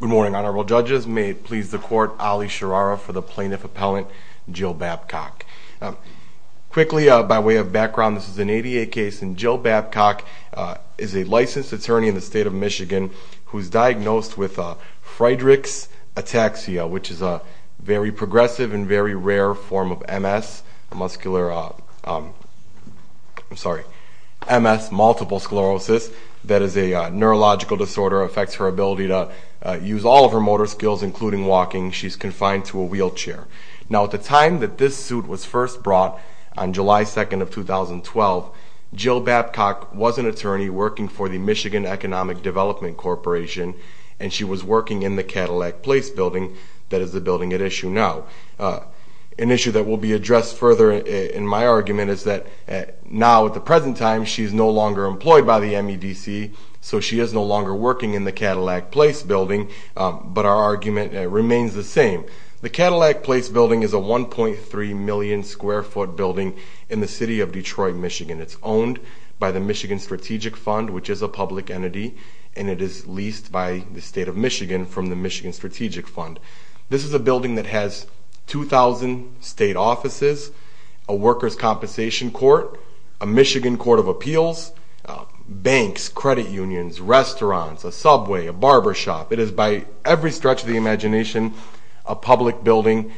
Good morning, honorable judges. May it please the court, Ali Shirara for the plaintiff appellant Jill Babcock. Quickly, by way of background, this is an ADA case and Jill Babcock is a licensed attorney in the State of Michigan who's diagnosed with Friedrich's ataxia, which is a very progressive and very rare form of MS, muscular, I'm sorry, MS, multiple sclerosis. That is a neurological disorder. It affects her ability to use all of her motor skills, including walking. She's confined to a wheelchair. Now, at the time that this suit was first brought, on July 2nd of 2012, Jill Babcock was an attorney working for the Michigan Economic Development Corporation, and she was working in the Cadillac Place Building, that is the building at issue now. An issue that will be addressed further in my argument is that now, at the present time, she's no longer employed by the MEDC, so she is no longer working in the Cadillac Place Building, but our argument remains the same. The Cadillac Place Building is a 1.3 million square foot building in the city of Detroit, Michigan. It's owned by the Michigan Strategic Fund, which is a public entity, and it is leased by the State of Michigan from the Michigan Strategic Fund. This is a building that has 2,000 state offices, a workers' compensation court, a Michigan Court of Appeals, banks, credit unions, restaurants, a subway, a barber shop. It is, by every stretch of the imagination, a public building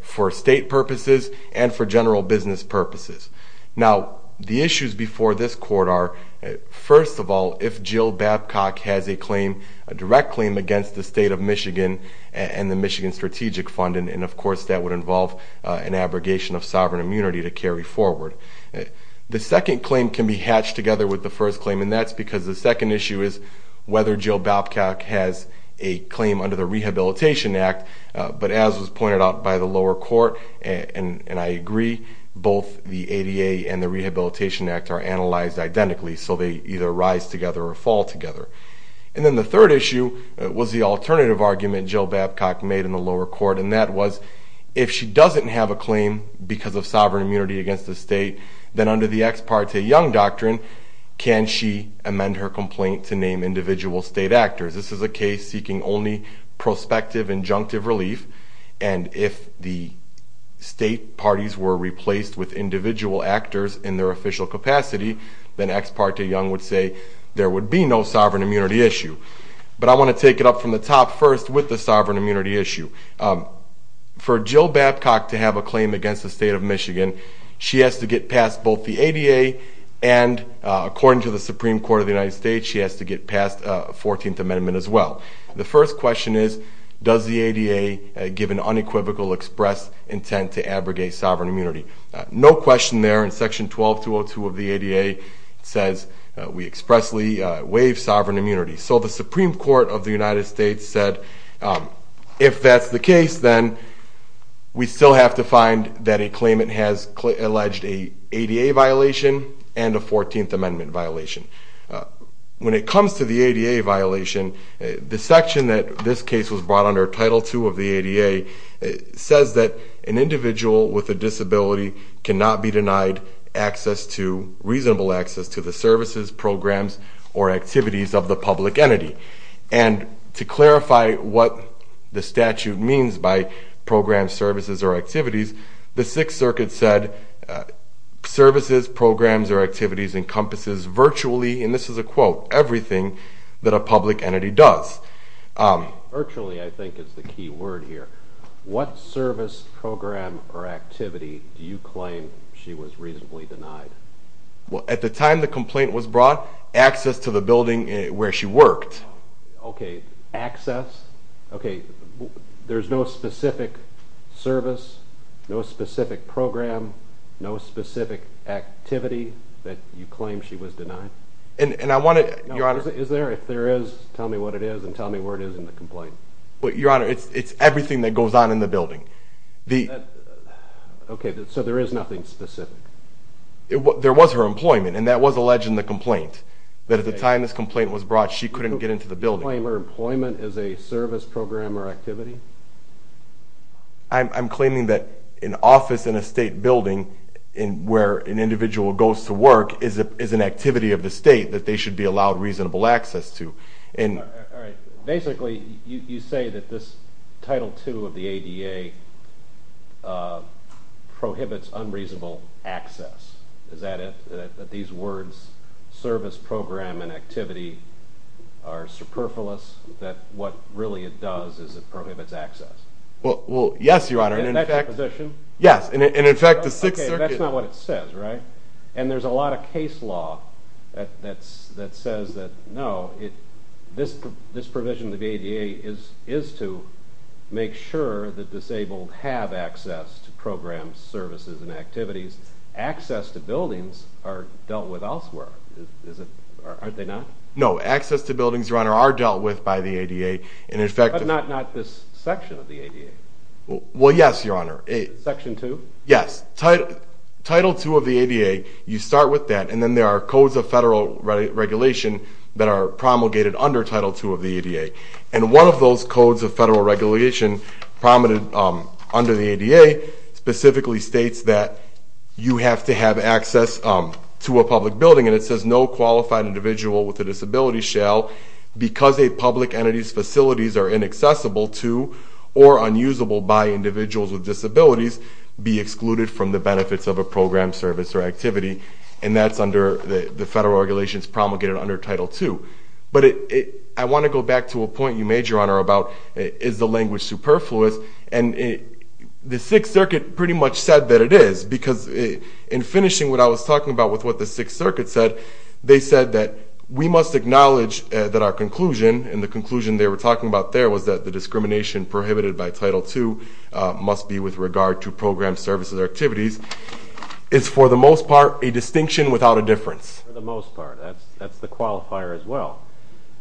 for state purposes and for general business purposes. Now, the issues before this court are, first of all, if Jill Babcock has a direct claim against the State of Michigan and the Michigan Strategic Fund, and of course that would involve an abrogation of sovereign immunity to carry forward. The second claim can be hatched together with the first claim, and that's because the second issue is whether Jill Babcock has a claim under the Rehabilitation Act, but as was pointed out by the lower court, and I agree, both the ADA and the Rehabilitation Act are analyzed identically, so they either rise together or fall together. And then the third issue was the alternative argument Jill Babcock made in the lower court, and that was, if she doesn't have a claim because of sovereign immunity against the state, then under the Ex Parte Young Doctrine, can she amend her complaint to name individual state actors? This is a case seeking only prospective injunctive relief, and if the state parties were replaced with individual actors in their official capacity, then Ex Parte Young would say there would be no sovereign immunity issue. But I want to take it up from the top first with the sovereign immunity issue. For Jill Babcock to have a claim against the State of Michigan, she has to get past both the ADA and, according to the Supreme Court of the United States, she has to get past 14th Amendment as well. The first question is, does the ADA give an unequivocal express intent to abrogate sovereign immunity? No question there. In Section 12202 of the ADA, it says we expressly waive sovereign immunity. So the Supreme Court of the United States said, if that's the case, then we still have to find that a claimant has alleged a ADA violation and a 14th Amendment violation. When it comes to the ADA violation, the section that this case was brought under, Title II of the ADA, says that an individual with a disability cannot be denied reasonable access to the services, programs, or activities of the public entity. And to clarify what the statute means by programs, services, or activities, the Sixth Circuit said services, programs, or activities encompasses virtually, and this is a quote, everything that a public entity does. Virtually, I think, is the key word here. What service, program, or activity do you claim she was reasonably denied? Well, at the time the complaint was brought, access to the building where she worked. Okay, access. Okay, there's no specific service, no specific program, no specific activity that you claim she was denied? And I want to... Is there? If there is, tell me what it is and tell me where it is in the complaint. Your Honor, it's everything that goes on in the building. Okay, so there is nothing specific? There was her employment, and that was alleged in the complaint. But at the time this complaint was brought, she couldn't get into the building. You claim her employment is a service, program, or activity? I'm claiming that an office in a state building where an individual goes to work is an activity of the state that they should be allowed reasonable access to. Basically, you say that this Title II of the ADA prohibits unreasonable access. Is that it? That these words, service, program, and activity are superfluous? That what really it does is it prohibits access? Well, yes, Your Honor, and in fact... Is that your position? Yes, and in fact the Sixth Circuit... This provision of the ADA is to make sure that disabled have access to programs, services, and activities. Access to buildings are dealt with elsewhere, aren't they not? No, access to buildings, Your Honor, are dealt with by the ADA, and in fact... But not this section of the ADA? Well, yes, Your Honor. Section II? Yes, Title II of the ADA, you start with that, and then there are codes of federal regulation that are promulgated under Title II of the ADA, and one of those codes of federal regulation promulgated under the ADA specifically states that you have to have access to a public building, and it says no qualified individual with a disability shall, because a public entity's facilities are inaccessible to or unusable by individuals with disabilities, be excluded from the benefits of a program, service, or activity, and that's under the federal regulations promulgated under Title II. But I want to go back to a point you made, Your Honor, about is the language superfluous, and the Sixth Circuit pretty much said that it is, because in finishing what I was talking about with what the Sixth Circuit said, they said that we must acknowledge that our conclusion, and the conclusion they were talking about there was that the discrimination prohibited by Title II must be with regard to programs, services, or activities, is for the most part a distinction without a difference. For the most part, that's the qualifier as well.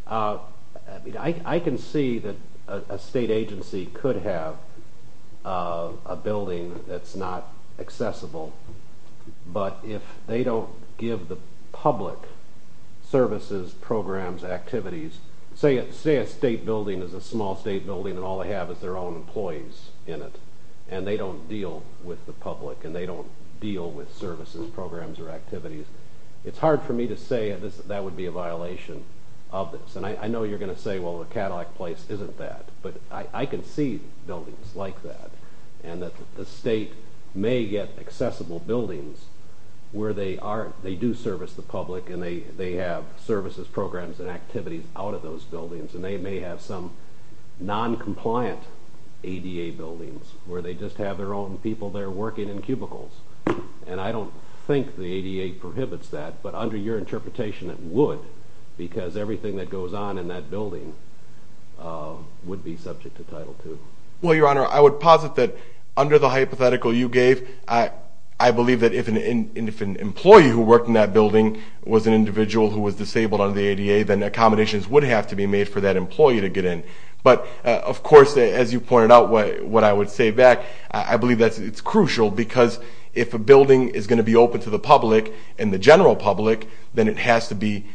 I can see that a state agency could have a building that's not accessible, but if they don't give the public services, programs, activities, say a state building is a small state building and all they have is their own employees in it, and they don't deal with the public, and they don't deal with services, programs, or activities, it's hard for me to say that would be a violation of this. And I know you're going to say, well, the Cadillac Place isn't that, but I can see buildings like that, and that the state may get accessible buildings where they do service the public, and they have services, programs, and activities out of those buildings, and they may have some noncompliant ADA buildings where they just have their own people there working in cubicles. And I don't think the ADA prohibits that, but under your interpretation it would, because everything that goes on in that building would be subject to Title II. Well, Your Honor, I would posit that under the hypothetical you gave, I believe that if an employee who worked in that building was an individual who was disabled under the ADA, then accommodations would have to be made for that employee to get in. But, of course, as you pointed out what I would say back, I believe that it's crucial, because if a building is going to be open to the public and the general public, then it has to be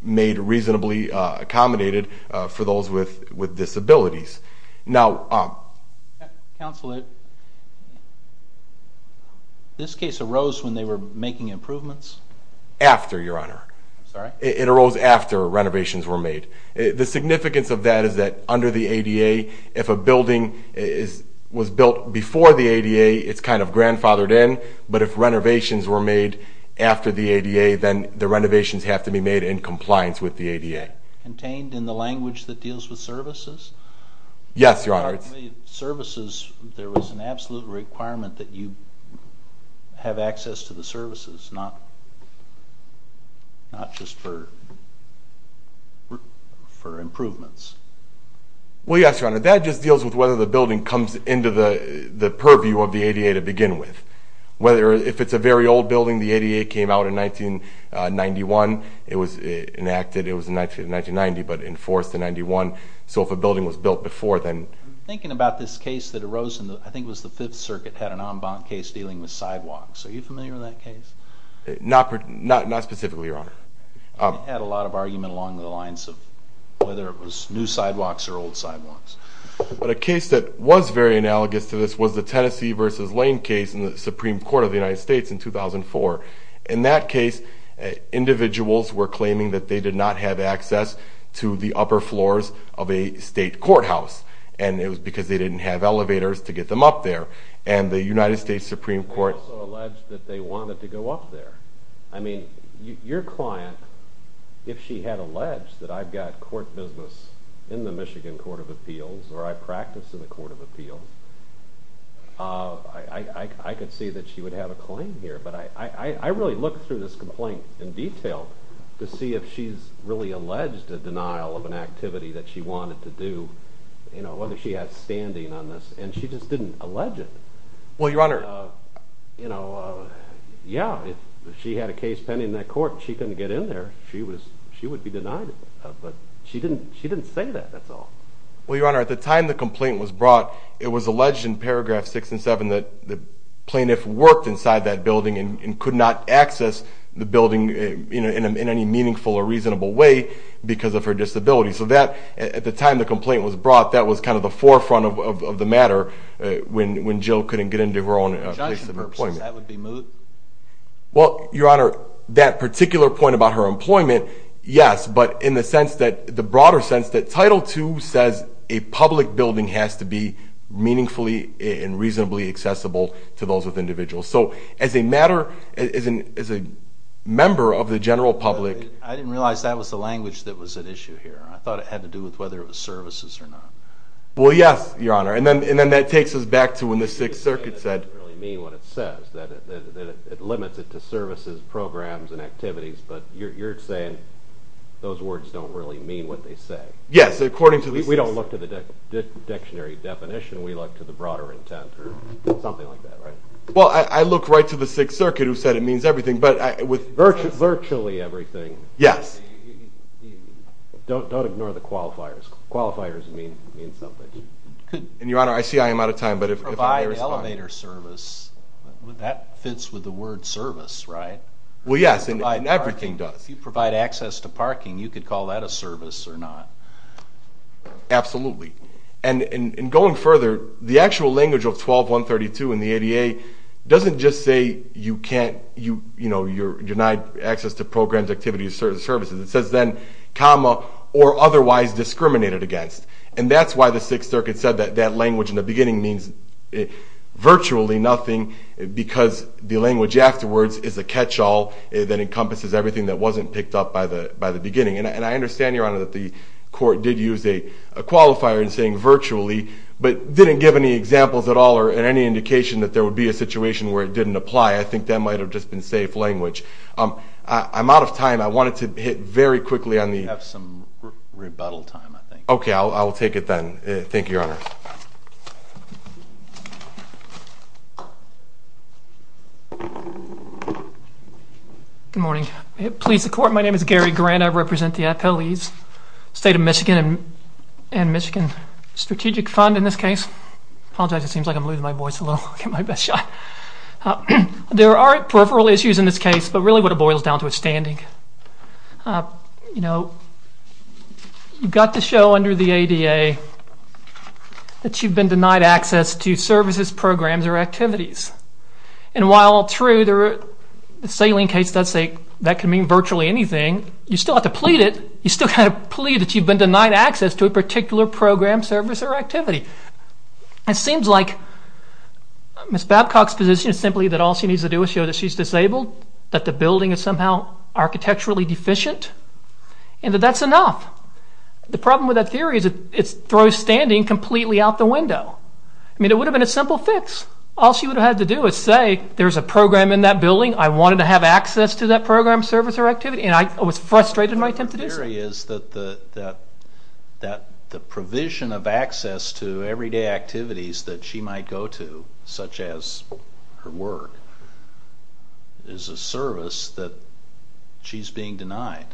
made reasonably accommodated for those with disabilities. Now... Counsel, this case arose when they were making improvements? After, Your Honor. I'm sorry? It arose after renovations were made. The significance of that is that under the ADA, if a building was built before the ADA, it's kind of grandfathered in, but if renovations were made after the ADA, then the renovations have to be made in compliance with the ADA. Contained in the language that deals with services? Yes, Your Honor. Services, there was an absolute requirement that you have access to the services, not just for improvements. Well, yes, Your Honor. That just deals with whether the building comes into the purview of the ADA to begin with. If it's a very old building, the ADA came out in 1991, it was enacted, it was enacted in 1990, but enforced in 91. So if a building was built before, then... I'm thinking about this case that arose in, I think it was the Fifth Circuit, had an en banc case dealing with sidewalks. Are you familiar with that case? Not specifically, Your Honor. It had a lot of argument along the lines of whether it was new sidewalks or old sidewalks. But a case that was very analogous to this was the Tennessee v. Lane case in the Supreme Court of the United States in 2004. In that case, individuals were claiming that they did not have access to the upper floors of a state courthouse, and it was because they didn't have elevators to get them up there. And the United States Supreme Court... They also alleged that they wanted to go up there. I mean, your client, if she had alleged that I've got court business in the Michigan Court of Appeals or I practice in the Court of Appeals, I could see that she would have a claim here. But I really looked through this complaint in detail to see if she's really alleged a denial of an activity that she wanted to do, whether she had standing on this, and she just didn't allege it. Well, Your Honor... Yeah, if she had a case pending in that court and she couldn't get in there, she would be denied it. But she didn't say that, that's all. Well, Your Honor, at the time the complaint was brought, it was alleged in paragraph 6 and 7 that the plaintiff worked inside that building and could not access the building in any meaningful or reasonable way because of her disability. So at the time the complaint was brought, that was kind of the forefront of the matter when Jill couldn't get into her own place of employment. Judging purposes, that would be moot. Well, Your Honor, that particular point about her employment, yes, but in the broader sense that Title II says a public building has to be meaningfully and reasonably accessible to those with individuals. So as a matter, as a member of the general public... I didn't realize that was the language that was at issue here. I thought it had to do with whether it was services or not. Well, yes, Your Honor, and then that takes us back to when the Sixth Circuit said... I don't really mean what it says, that it limits it to services, programs, and activities. But you're saying those words don't really mean what they say. Yes, according to the Sixth... We don't look to the dictionary definition. We look to the broader intent or something like that, right? Well, I look right to the Sixth Circuit who said it means everything, but with... Virtually everything. Yes. Don't ignore the qualifiers. Qualifiers mean something. And, Your Honor, I see I am out of time, but if I may respond... Provide elevator service, that fits with the word service, right? Well, yes, and everything does. If you provide access to parking, you could call that a service or not. Absolutely. And going further, the actual language of 12-132 in the ADA doesn't just say you can't... You're denied access to programs, activities, and services. It says then, comma, or otherwise discriminated against. And that's why the Sixth Circuit said that language in the beginning means virtually nothing... Because the language afterwards is a catch-all that encompasses everything that wasn't picked up by the beginning. And I understand, Your Honor, that the court did use a qualifier in saying virtually... But didn't give any examples at all or any indication that there would be a situation where it didn't apply. I think that might have just been safe language. I'm out of time. I wanted to hit very quickly on the... We have some rebuttal time, I think. Good morning. Police, the court, my name is Gary Grant. I represent the FLE's State of Michigan and Michigan Strategic Fund in this case. Apologize, it seems like I'm losing my voice a little. I'll get my best shot. There are peripheral issues in this case, but really what it boils down to is standing. You know, you've got to show under the ADA that you've been denied access to services, programs, or activities. And while true, the saline case does say that can mean virtually anything, you still have to plead it. You still have to plead that you've been denied access to a particular program, service, or activity. It seems like Ms. Babcock's position is simply that all she needs to do is show that she's disabled, that the building is somehow architecturally deficient, and that that's enough. The problem with that theory is it throws standing completely out the window. I mean, it would have been a simple fix. All she would have had to do is say there's a program in that building, I wanted to have access to that program, service, or activity, and I was frustrated in my attempt to do so. The theory is that the provision of access to everyday activities that she might go to, such as her work, is a service that she's being denied.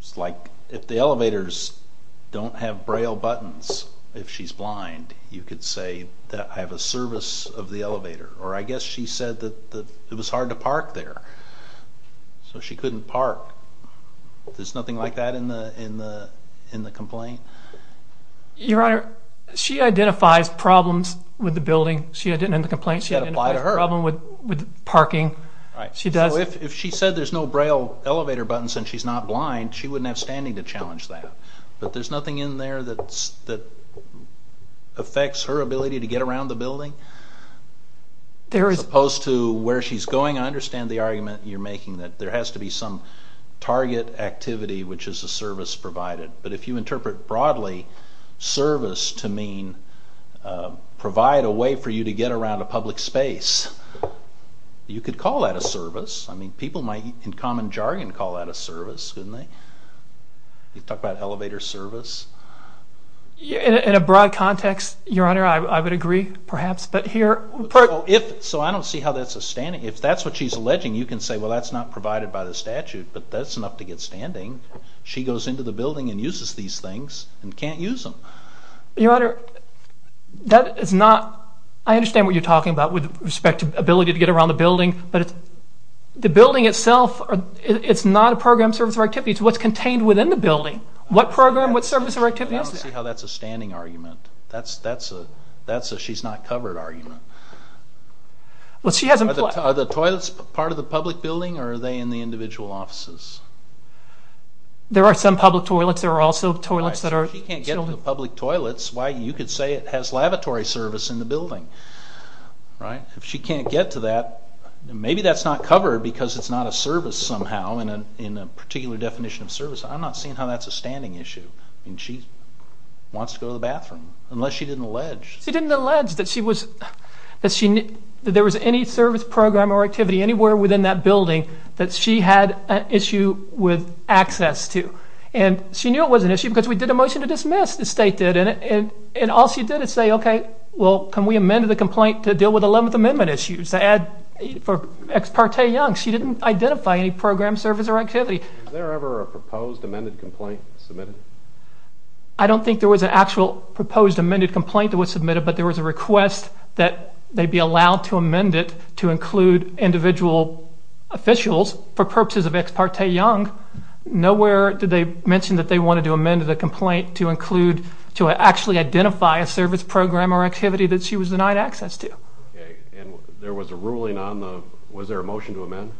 It's like if the elevators don't have Braille buttons, if she's blind, you could say that I have a service of the elevator. Or I guess she said that it was hard to park there, so she couldn't park. There's nothing like that in the complaint? Your Honor, she identifies problems with the building. She identifies problems with parking. If she said there's no Braille elevator buttons and she's not blind, she wouldn't have standing to challenge that. But there's nothing in there that affects her ability to get around the building? As opposed to where she's going? I understand the argument you're making that there has to be some target activity which is a service provided. But if you interpret broadly service to mean provide a way for you to get around a public space, you could call that a service. I mean, people might, in common jargon, call that a service, couldn't they? You talk about elevator service? In a broad context, Your Honor, I would agree, perhaps. So I don't see how that's a standing. If that's what she's alleging, you can say that's not provided by the statute, but that's enough to get standing. She goes into the building and uses these things and can't use them. Your Honor, that is not... I understand what you're talking about with respect to ability to get around the building, but the building itself, it's not a program service or activity. It's what's contained within the building. What program, what service or activity is it? I don't see how that's a standing argument. That's a she's not covered argument. Are the toilets part of the public building or are they in the individual offices? There are some public toilets. There are also toilets that are... If she can't get to the public toilets, why, you could say it has lavatory service in the building. If she can't get to that, maybe that's not covered because it's not a service somehow in a particular definition of service. I'm not seeing how that's a standing issue. She wants to go to the bathroom, unless she didn't allege. She didn't allege that there was any service program or activity anywhere within that building that she had an issue with access to. She knew it was an issue because we did a motion to dismiss, the state did, and all she did is say, okay, well, can we amend the complaint to deal with 11th Amendment issues? To add for Ex parte Young, she didn't identify any program, service or activity. Was there ever a proposed amended complaint submitted? I don't think there was an actual proposed amended complaint that was submitted, but there was a request that they be allowed to amend it to include individual officials for purposes of Ex parte Young. Nowhere did they mention that they wanted to amend the complaint to include, to actually identify a service program or activity that she was denied access to. Okay, and there was a ruling on the, was there a motion to amend?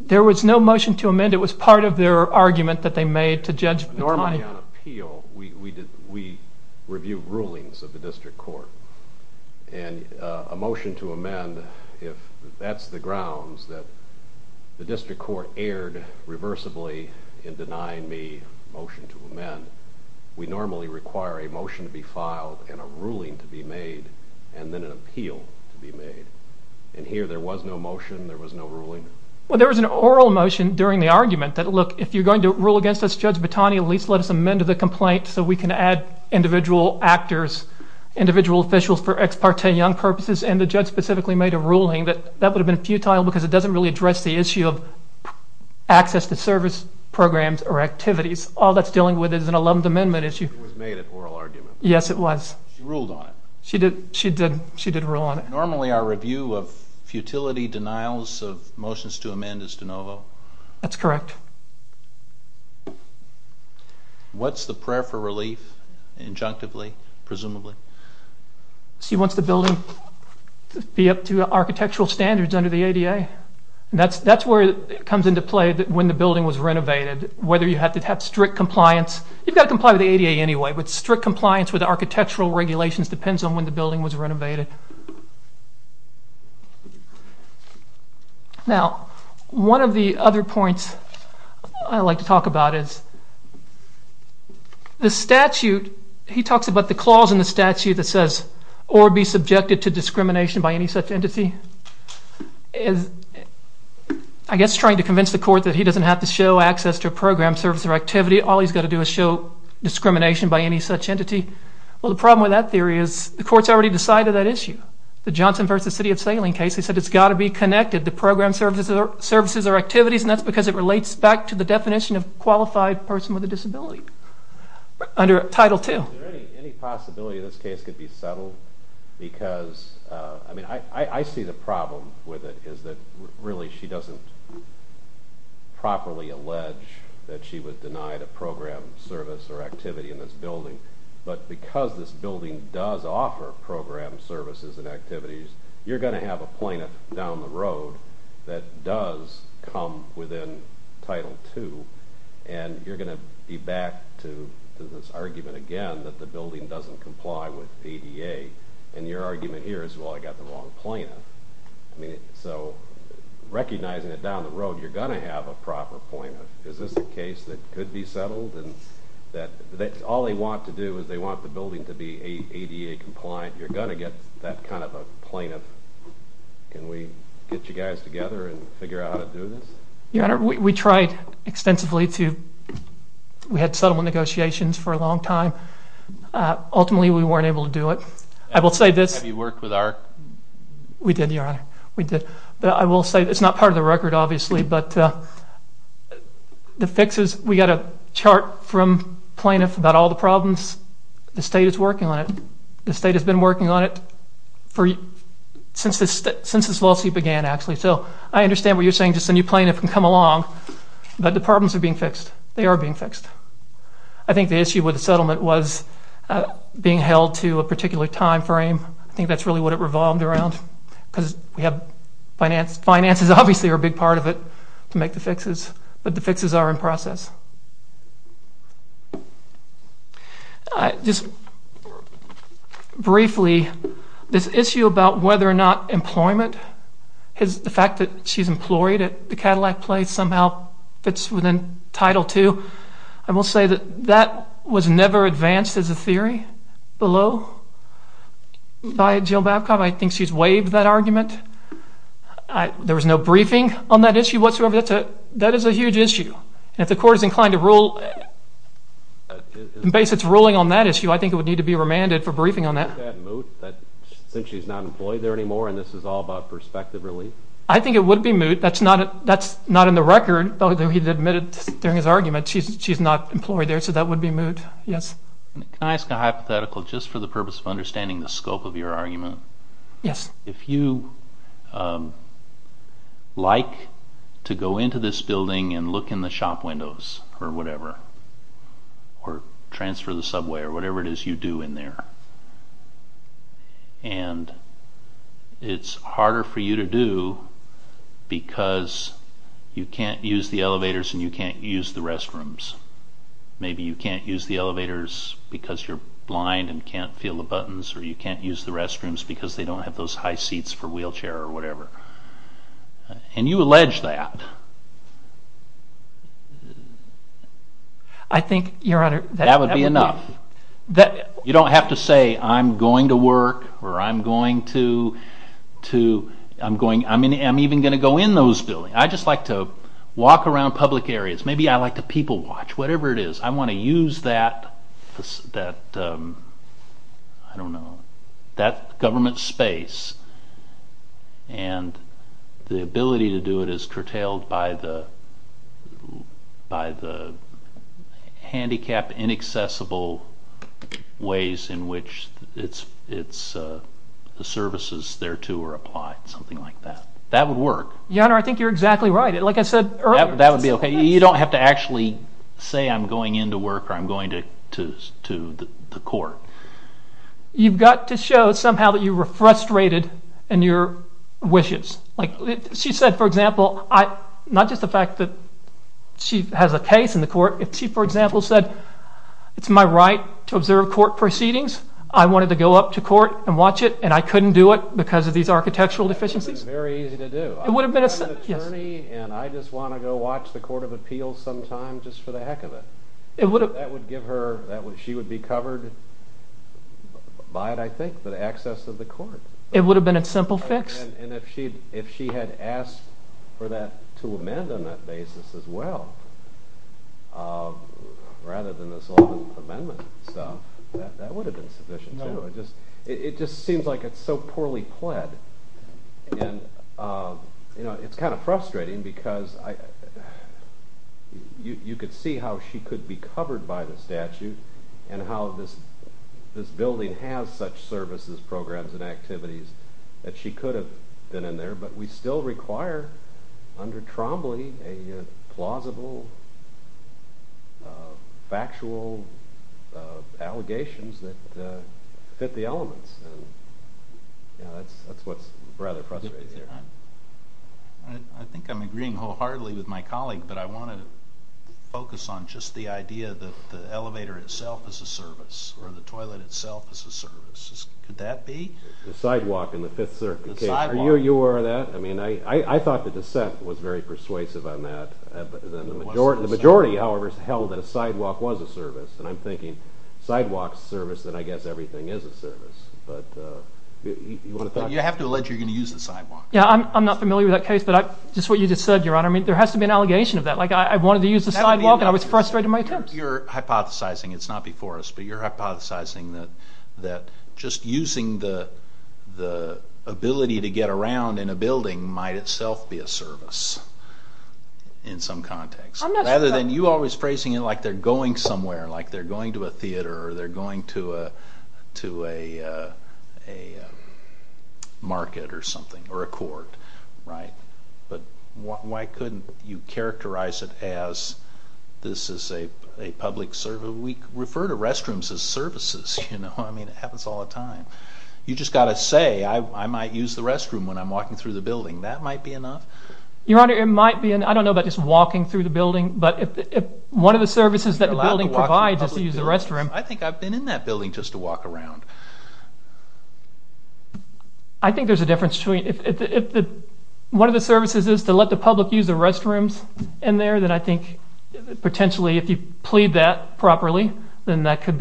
There was no motion to amend. It was part of their argument that they made to Judge McConnell. Normally on appeal, we review rulings of the district court, and a motion to amend, if that's the grounds that the district court erred reversibly in denying me a motion to amend, we normally require a motion to be filed and a ruling to be made and then an appeal to be made. And here there was no motion, there was no ruling? Well, there was an oral motion during the argument that, look, if you're going to rule against us, Judge Batani, at least let us amend the complaint so we can add individual actors, individual officials for Ex parte Young purposes, and the judge specifically made a ruling that that would have been futile because it doesn't really address the issue of access to service programs or activities. All that's dealing with is an alumnus amendment issue. It was made an oral argument? Yes, it was. She ruled on it? She did, she did rule on it. Normally our review of futility denials of motions to amend is de novo? That's correct. What's the prayer for relief, injunctively, presumably? She wants the building to be up to architectural standards under the ADA. That's where it comes into play when the building was renovated, whether you have to have strict compliance. You've got to comply with the ADA anyway, but strict compliance with architectural regulations depends on when the building was renovated. Now, one of the other points I'd like to talk about is the statute. He talks about the clause in the statute that says, or be subjected to discrimination by any such entity. I guess trying to convince the court that he doesn't have to show access to a program, service, or activity. All he's got to do is show discrimination by any such entity. Well, the problem with that theory is the court's already decided that issue. The Johnson v. City of Salem case, they said it's got to be connected to program, services, or activities, and that's because it relates back to the definition of qualified person with a disability under Title II. Is there any possibility this case could be settled? I see the problem with it is that really she doesn't properly allege that she would deny the program, service, or activity in this building, but because this building does offer program, services, and activities, you're going to have a plaintiff down the road that does come within Title II, and you're going to be back to this argument again that the building doesn't comply with the ADA, and your argument here is, well, I got the wrong plaintiff. So recognizing that down the road, you're going to have a proper plaintiff. Is this a case that could be settled? All they want to do is they want the building to be ADA compliant. You're going to get that kind of a plaintiff. Can we get you guys together and figure out how to do this? Your Honor, we tried extensively to. We had settlement negotiations for a long time. Ultimately, we weren't able to do it. Have you worked with AHRQ? We did, Your Honor. We did. It's not part of the record, obviously, but the fixes, we got a chart from plaintiff about all the problems. The state is working on it. The state has been working on it since this lawsuit began, actually. So I understand what you're saying, just a new plaintiff can come along, but the problems are being fixed. They are being fixed. I think the issue with the settlement was being held to a particular time frame. I think that's really what it revolved around because we have finances. Finances, obviously, are a big part of it to make the fixes, but the fixes are in process. Just briefly, this issue about whether or not employment, the fact that she's employed at the Cadillac place somehow fits within Title II, I will say that that was never advanced as a theory below by Jill Babcock. I think she's waived that argument. There was no briefing on that issue whatsoever. That is a huge issue. If the court is inclined to rule in base its ruling on that issue, I think it would need to be remanded for briefing on that. Isn't that moot since she's not employed there anymore and this is all about perspective relief? I think it would be moot. That's not in the record, although he admitted during his argument she's not employed there, so that would be moot, yes. Can I ask a hypothetical just for the purpose of understanding the scope of your argument? Yes. If you like to go into this building and look in the shop windows or whatever or transfer the subway or whatever it is you do in there and it's harder for you to do because you can't use the elevators and you can't use the restrooms, maybe you can't use the elevators because you're blind and can't feel the buttons or you can't use the restrooms because they don't have those high seats for wheelchair or whatever and you allege that, that would be enough. You don't have to say I'm going to work or I'm even going to go in those buildings. I just like to walk around public areas. Maybe I like to people watch, whatever it is. I want to use that, I don't know, that government space and the ability to do it is curtailed by the handicap inaccessible ways in which the services thereto are applied, something like that. That would work. Your Honor, I think you're exactly right. Like I said earlier. That would be okay. You don't have to actually say I'm going in to work or I'm going to the court. You've got to show somehow that you were frustrated in your wishes. She said for example, not just the fact that she has a case in the court, she for example said it's my right to observe court proceedings. I wanted to go up to court and watch it and I couldn't do it because of these architectural deficiencies. That would have been very easy to do. I'm not an attorney and I just want to go watch the court of appeals sometimes just for the heck of it. That would give her, she would be covered by it I think, the access of the court. It would have been a simple fix. And if she had asked for that to amend on that basis as well rather than this law amendment stuff, that would have been sufficient too. It just seems like it's so poorly pled. It's kind of frustrating because you could see how she could be covered by the statute and how this building has such services, programs, and activities that she could have been in there, but we still require under Trombley a plausible factual allegations that fit the elements. That's what's rather frustrating here. I think I'm agreeing wholeheartedly with my colleague, but I wanted to focus on just the idea that the elevator itself is a service or the toilet itself is a service. Could that be? The sidewalk in the 5th Circuit case. Are you aware of that? I thought the dissent was very persuasive on that. The majority however held that a sidewalk was a service. And I'm thinking sidewalk is a service, then I guess everything is a service. You have to allege you're going to use the sidewalk. I'm not familiar with that case, but just what you just said, Your Honor, there has to be an allegation of that. I wanted to use the sidewalk and I was frustrated in my attempts. You're hypothesizing, it's not before us, but you're hypothesizing that just using the ability to get around in a building might itself be a service in some context. Rather than you always phrasing it like they're going somewhere, like they're going to a theater or they're going to a market or something or a court. But why couldn't you characterize it as this is a public service? We refer to restrooms as services. It happens all the time. You've just got to say, I might use the restroom when I'm walking through the building. That might be enough? Your Honor, it might be. I don't know about just walking through the building, but if one of the services that the building provides is to use the restroom. I think I've been in that building just to walk around. I think there's a difference. If one of the services is to let the public use the restrooms in there, then I think potentially if you plead that properly, then that could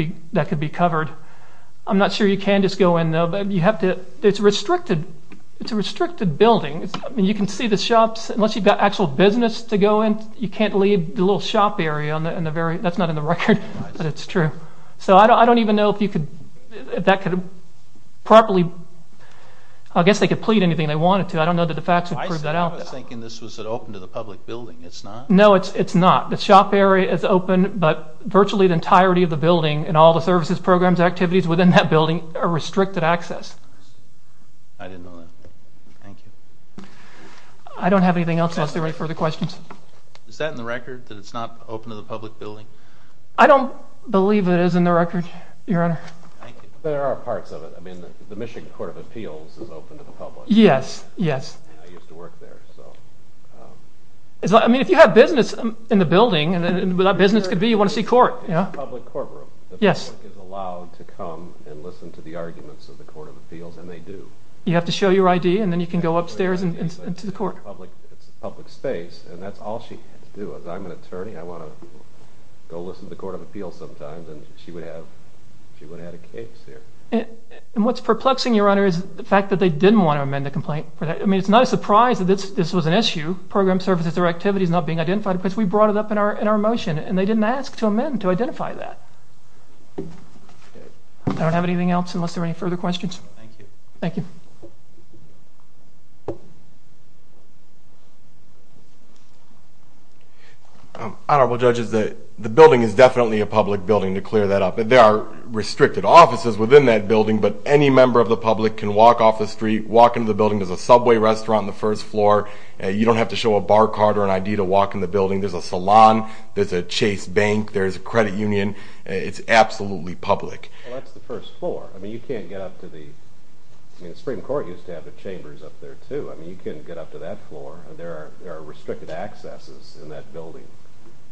be covered. I'm not sure you can just go in, though. It's a restricted building. You can see the shops. Unless you've got actual business to go in, you can't leave the little shop area. That's not in the record, but it's true. I don't even know if that could properly. I guess they could plead anything they wanted to. I don't know that the facts would prove that out. I was thinking this was open to the public building. It's not? No, it's not. The shop area is open, but virtually the entirety of the building and all the services, programs, activities within that building are restricted access. I didn't know that. Thank you. I don't have anything else unless there are any further questions. Is that in the record that it's not open to the public building? I don't believe it is in the record, Your Honor. Thank you. There are parts of it. The Michigan Court of Appeals is open to the public. Yes, yes. I used to work there. If you have business in the building, and what that business could be, you want to see court. It's a public courtroom. The public is allowed to come and listen to the arguments of the Court of Appeals, and they do. You have to show your ID, and then you can go upstairs into the court. It's a public space, and that's all she had to do. I'm an attorney. I want to go listen to the Court of Appeals sometimes, and she would have had a case there. What's perplexing, Your Honor, is the fact that they didn't want to amend the complaint. I mean, it's not a surprise that this was an issue, program services or activities not being identified, because we brought it up in our motion, and they didn't ask to amend to identify that. I don't have anything else unless there are any further questions. Thank you. Thank you. Honorable Judges, the building is definitely a public building, to clear that up. There are restricted offices within that building, but any member of the public can walk off the street, walk into the building. There's a Subway restaurant on the first floor. You don't have to show a bar card or an ID to walk in the building. There's a salon. There's a Chase Bank. There's a credit union. It's absolutely public. Well, that's the first floor. I mean, you can't get up to the – I mean, the Supreme Court used to have the chambers up there, too. I mean, you couldn't get up to that floor. There are restricted accesses in that building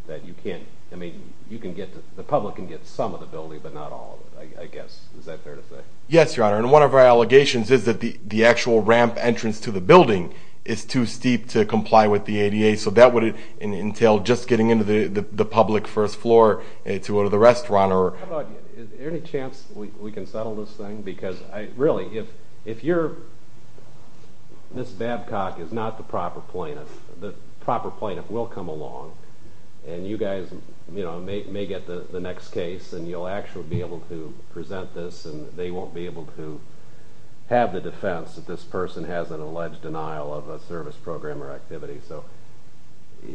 that you can't – I mean, you can get to – the public can get some of the building, but not all of it, I guess. Is that fair to say? Yes, Your Honor, and one of our allegations is that the actual ramp entrance to the building is too steep to comply with the ADA, so that would entail just getting into the public first floor to go to the restaurant. Your Honor, is there any chance we can settle this thing? Because, really, if you're – if Ms. Babcock is not the proper plaintiff, the proper plaintiff will come along, and you guys may get the next case, and you'll actually be able to present this, and they won't be able to have the defense that this person has an alleged denial of a service program or activity. So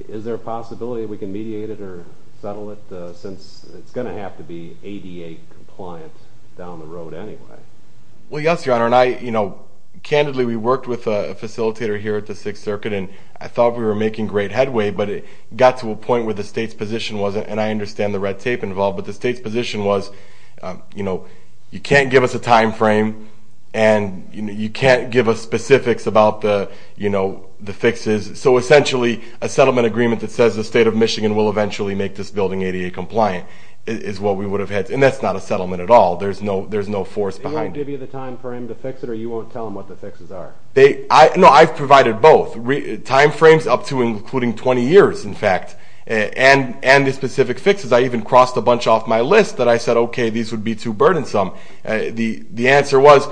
is there a possibility that we can mediate it or settle it, since it's going to have to be ADA compliant down the road anyway? Well, yes, Your Honor, and I – candidly, we worked with a facilitator here at the Sixth Circuit, and I thought we were making great headway, but it got to a point where the state's position wasn't, and I understand the red tape involved, but the state's position was, you know, you can't give us a time frame, and you can't give us specifics about the fixes. So essentially, a settlement agreement that says the state of Michigan will eventually make this building ADA compliant is what we would have had, and that's not a settlement at all. There's no force behind it. They won't give you the time frame to fix it, or you won't tell them what the fixes are? No, I've provided both, time frames up to and including 20 years, in fact, and the specific fixes. I even crossed a bunch off my list that I said, okay, these would be too burdensome. The answer was,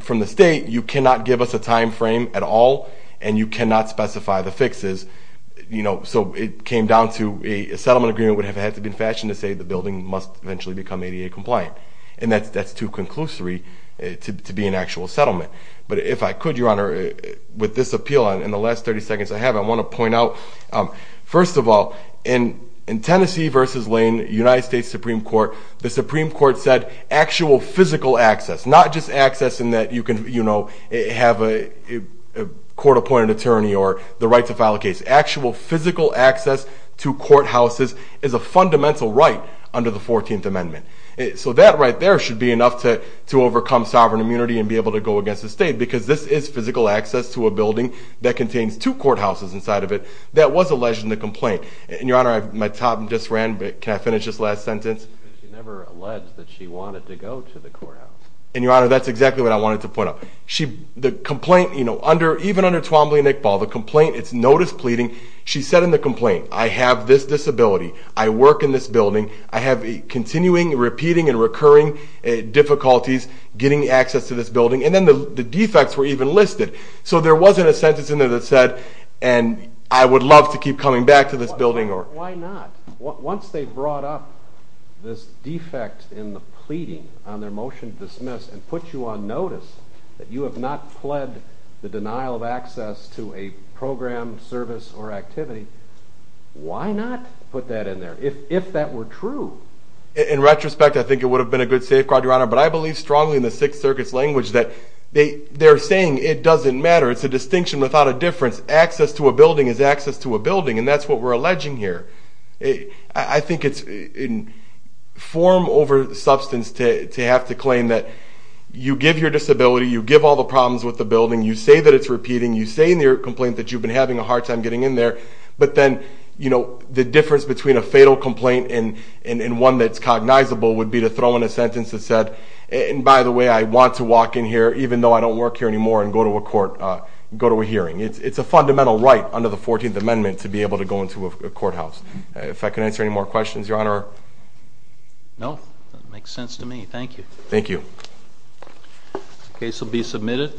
from the state, you cannot give us a time frame at all, and you cannot specify the fixes, you know, so it came down to a settlement agreement would have had to be fashioned to say the building must eventually become ADA compliant, and that's too conclusory to be an actual settlement. But if I could, Your Honor, with this appeal, in the last 30 seconds I have, I want to point out, first of all, in Tennessee v. Lane, United States Supreme Court, the Supreme Court said actual physical access, not just access in that you can, you know, have a court-appointed attorney or the right to file a case. Actual physical access to courthouses is a fundamental right under the 14th Amendment. So that right there should be enough to overcome sovereign immunity and be able to go against the state because this is physical access to a building that contains two courthouses inside of it. That was alleged in the complaint. And, Your Honor, my time just ran, but can I finish this last sentence? She never alleged that she wanted to go to the courthouse. And, Your Honor, that's exactly what I wanted to point out. The complaint, you know, even under Twombly and Iqbal, the complaint, it's notice pleading. She said in the complaint, I have this disability. I work in this building. I have continuing, repeating, and recurring difficulties getting access to this building. And then the defects were even listed. So there wasn't a sentence in there that said, and I would love to keep coming back to this building. Why not? Once they brought up this defect in the pleading on their motion to dismiss and put you on notice that you have not pled the denial of access to a program, service, or activity, why not put that in there if that were true? In retrospect, I think it would have been a good safeguard, Your Honor, but I believe strongly in the Sixth Circuit's language that they're saying it doesn't matter. It's a distinction without a difference. Access to a building is access to a building, and that's what we're alleging here. I think it's form over substance to have to claim that you give your disability, you give all the problems with the building, you say that it's repeating, you say in your complaint that you've been having a hard time getting in there, but then, you know, the difference between a fatal complaint and one that's cognizable would be to throw in a sentence that said, and by the way, I want to walk in here even though I don't work here anymore and go to a court, go to a hearing. It's a fundamental right under the 14th Amendment to be able to go into a courthouse. If I can answer any more questions, Your Honor? No. That makes sense to me. Thank you. Thank you. The case will be submitted.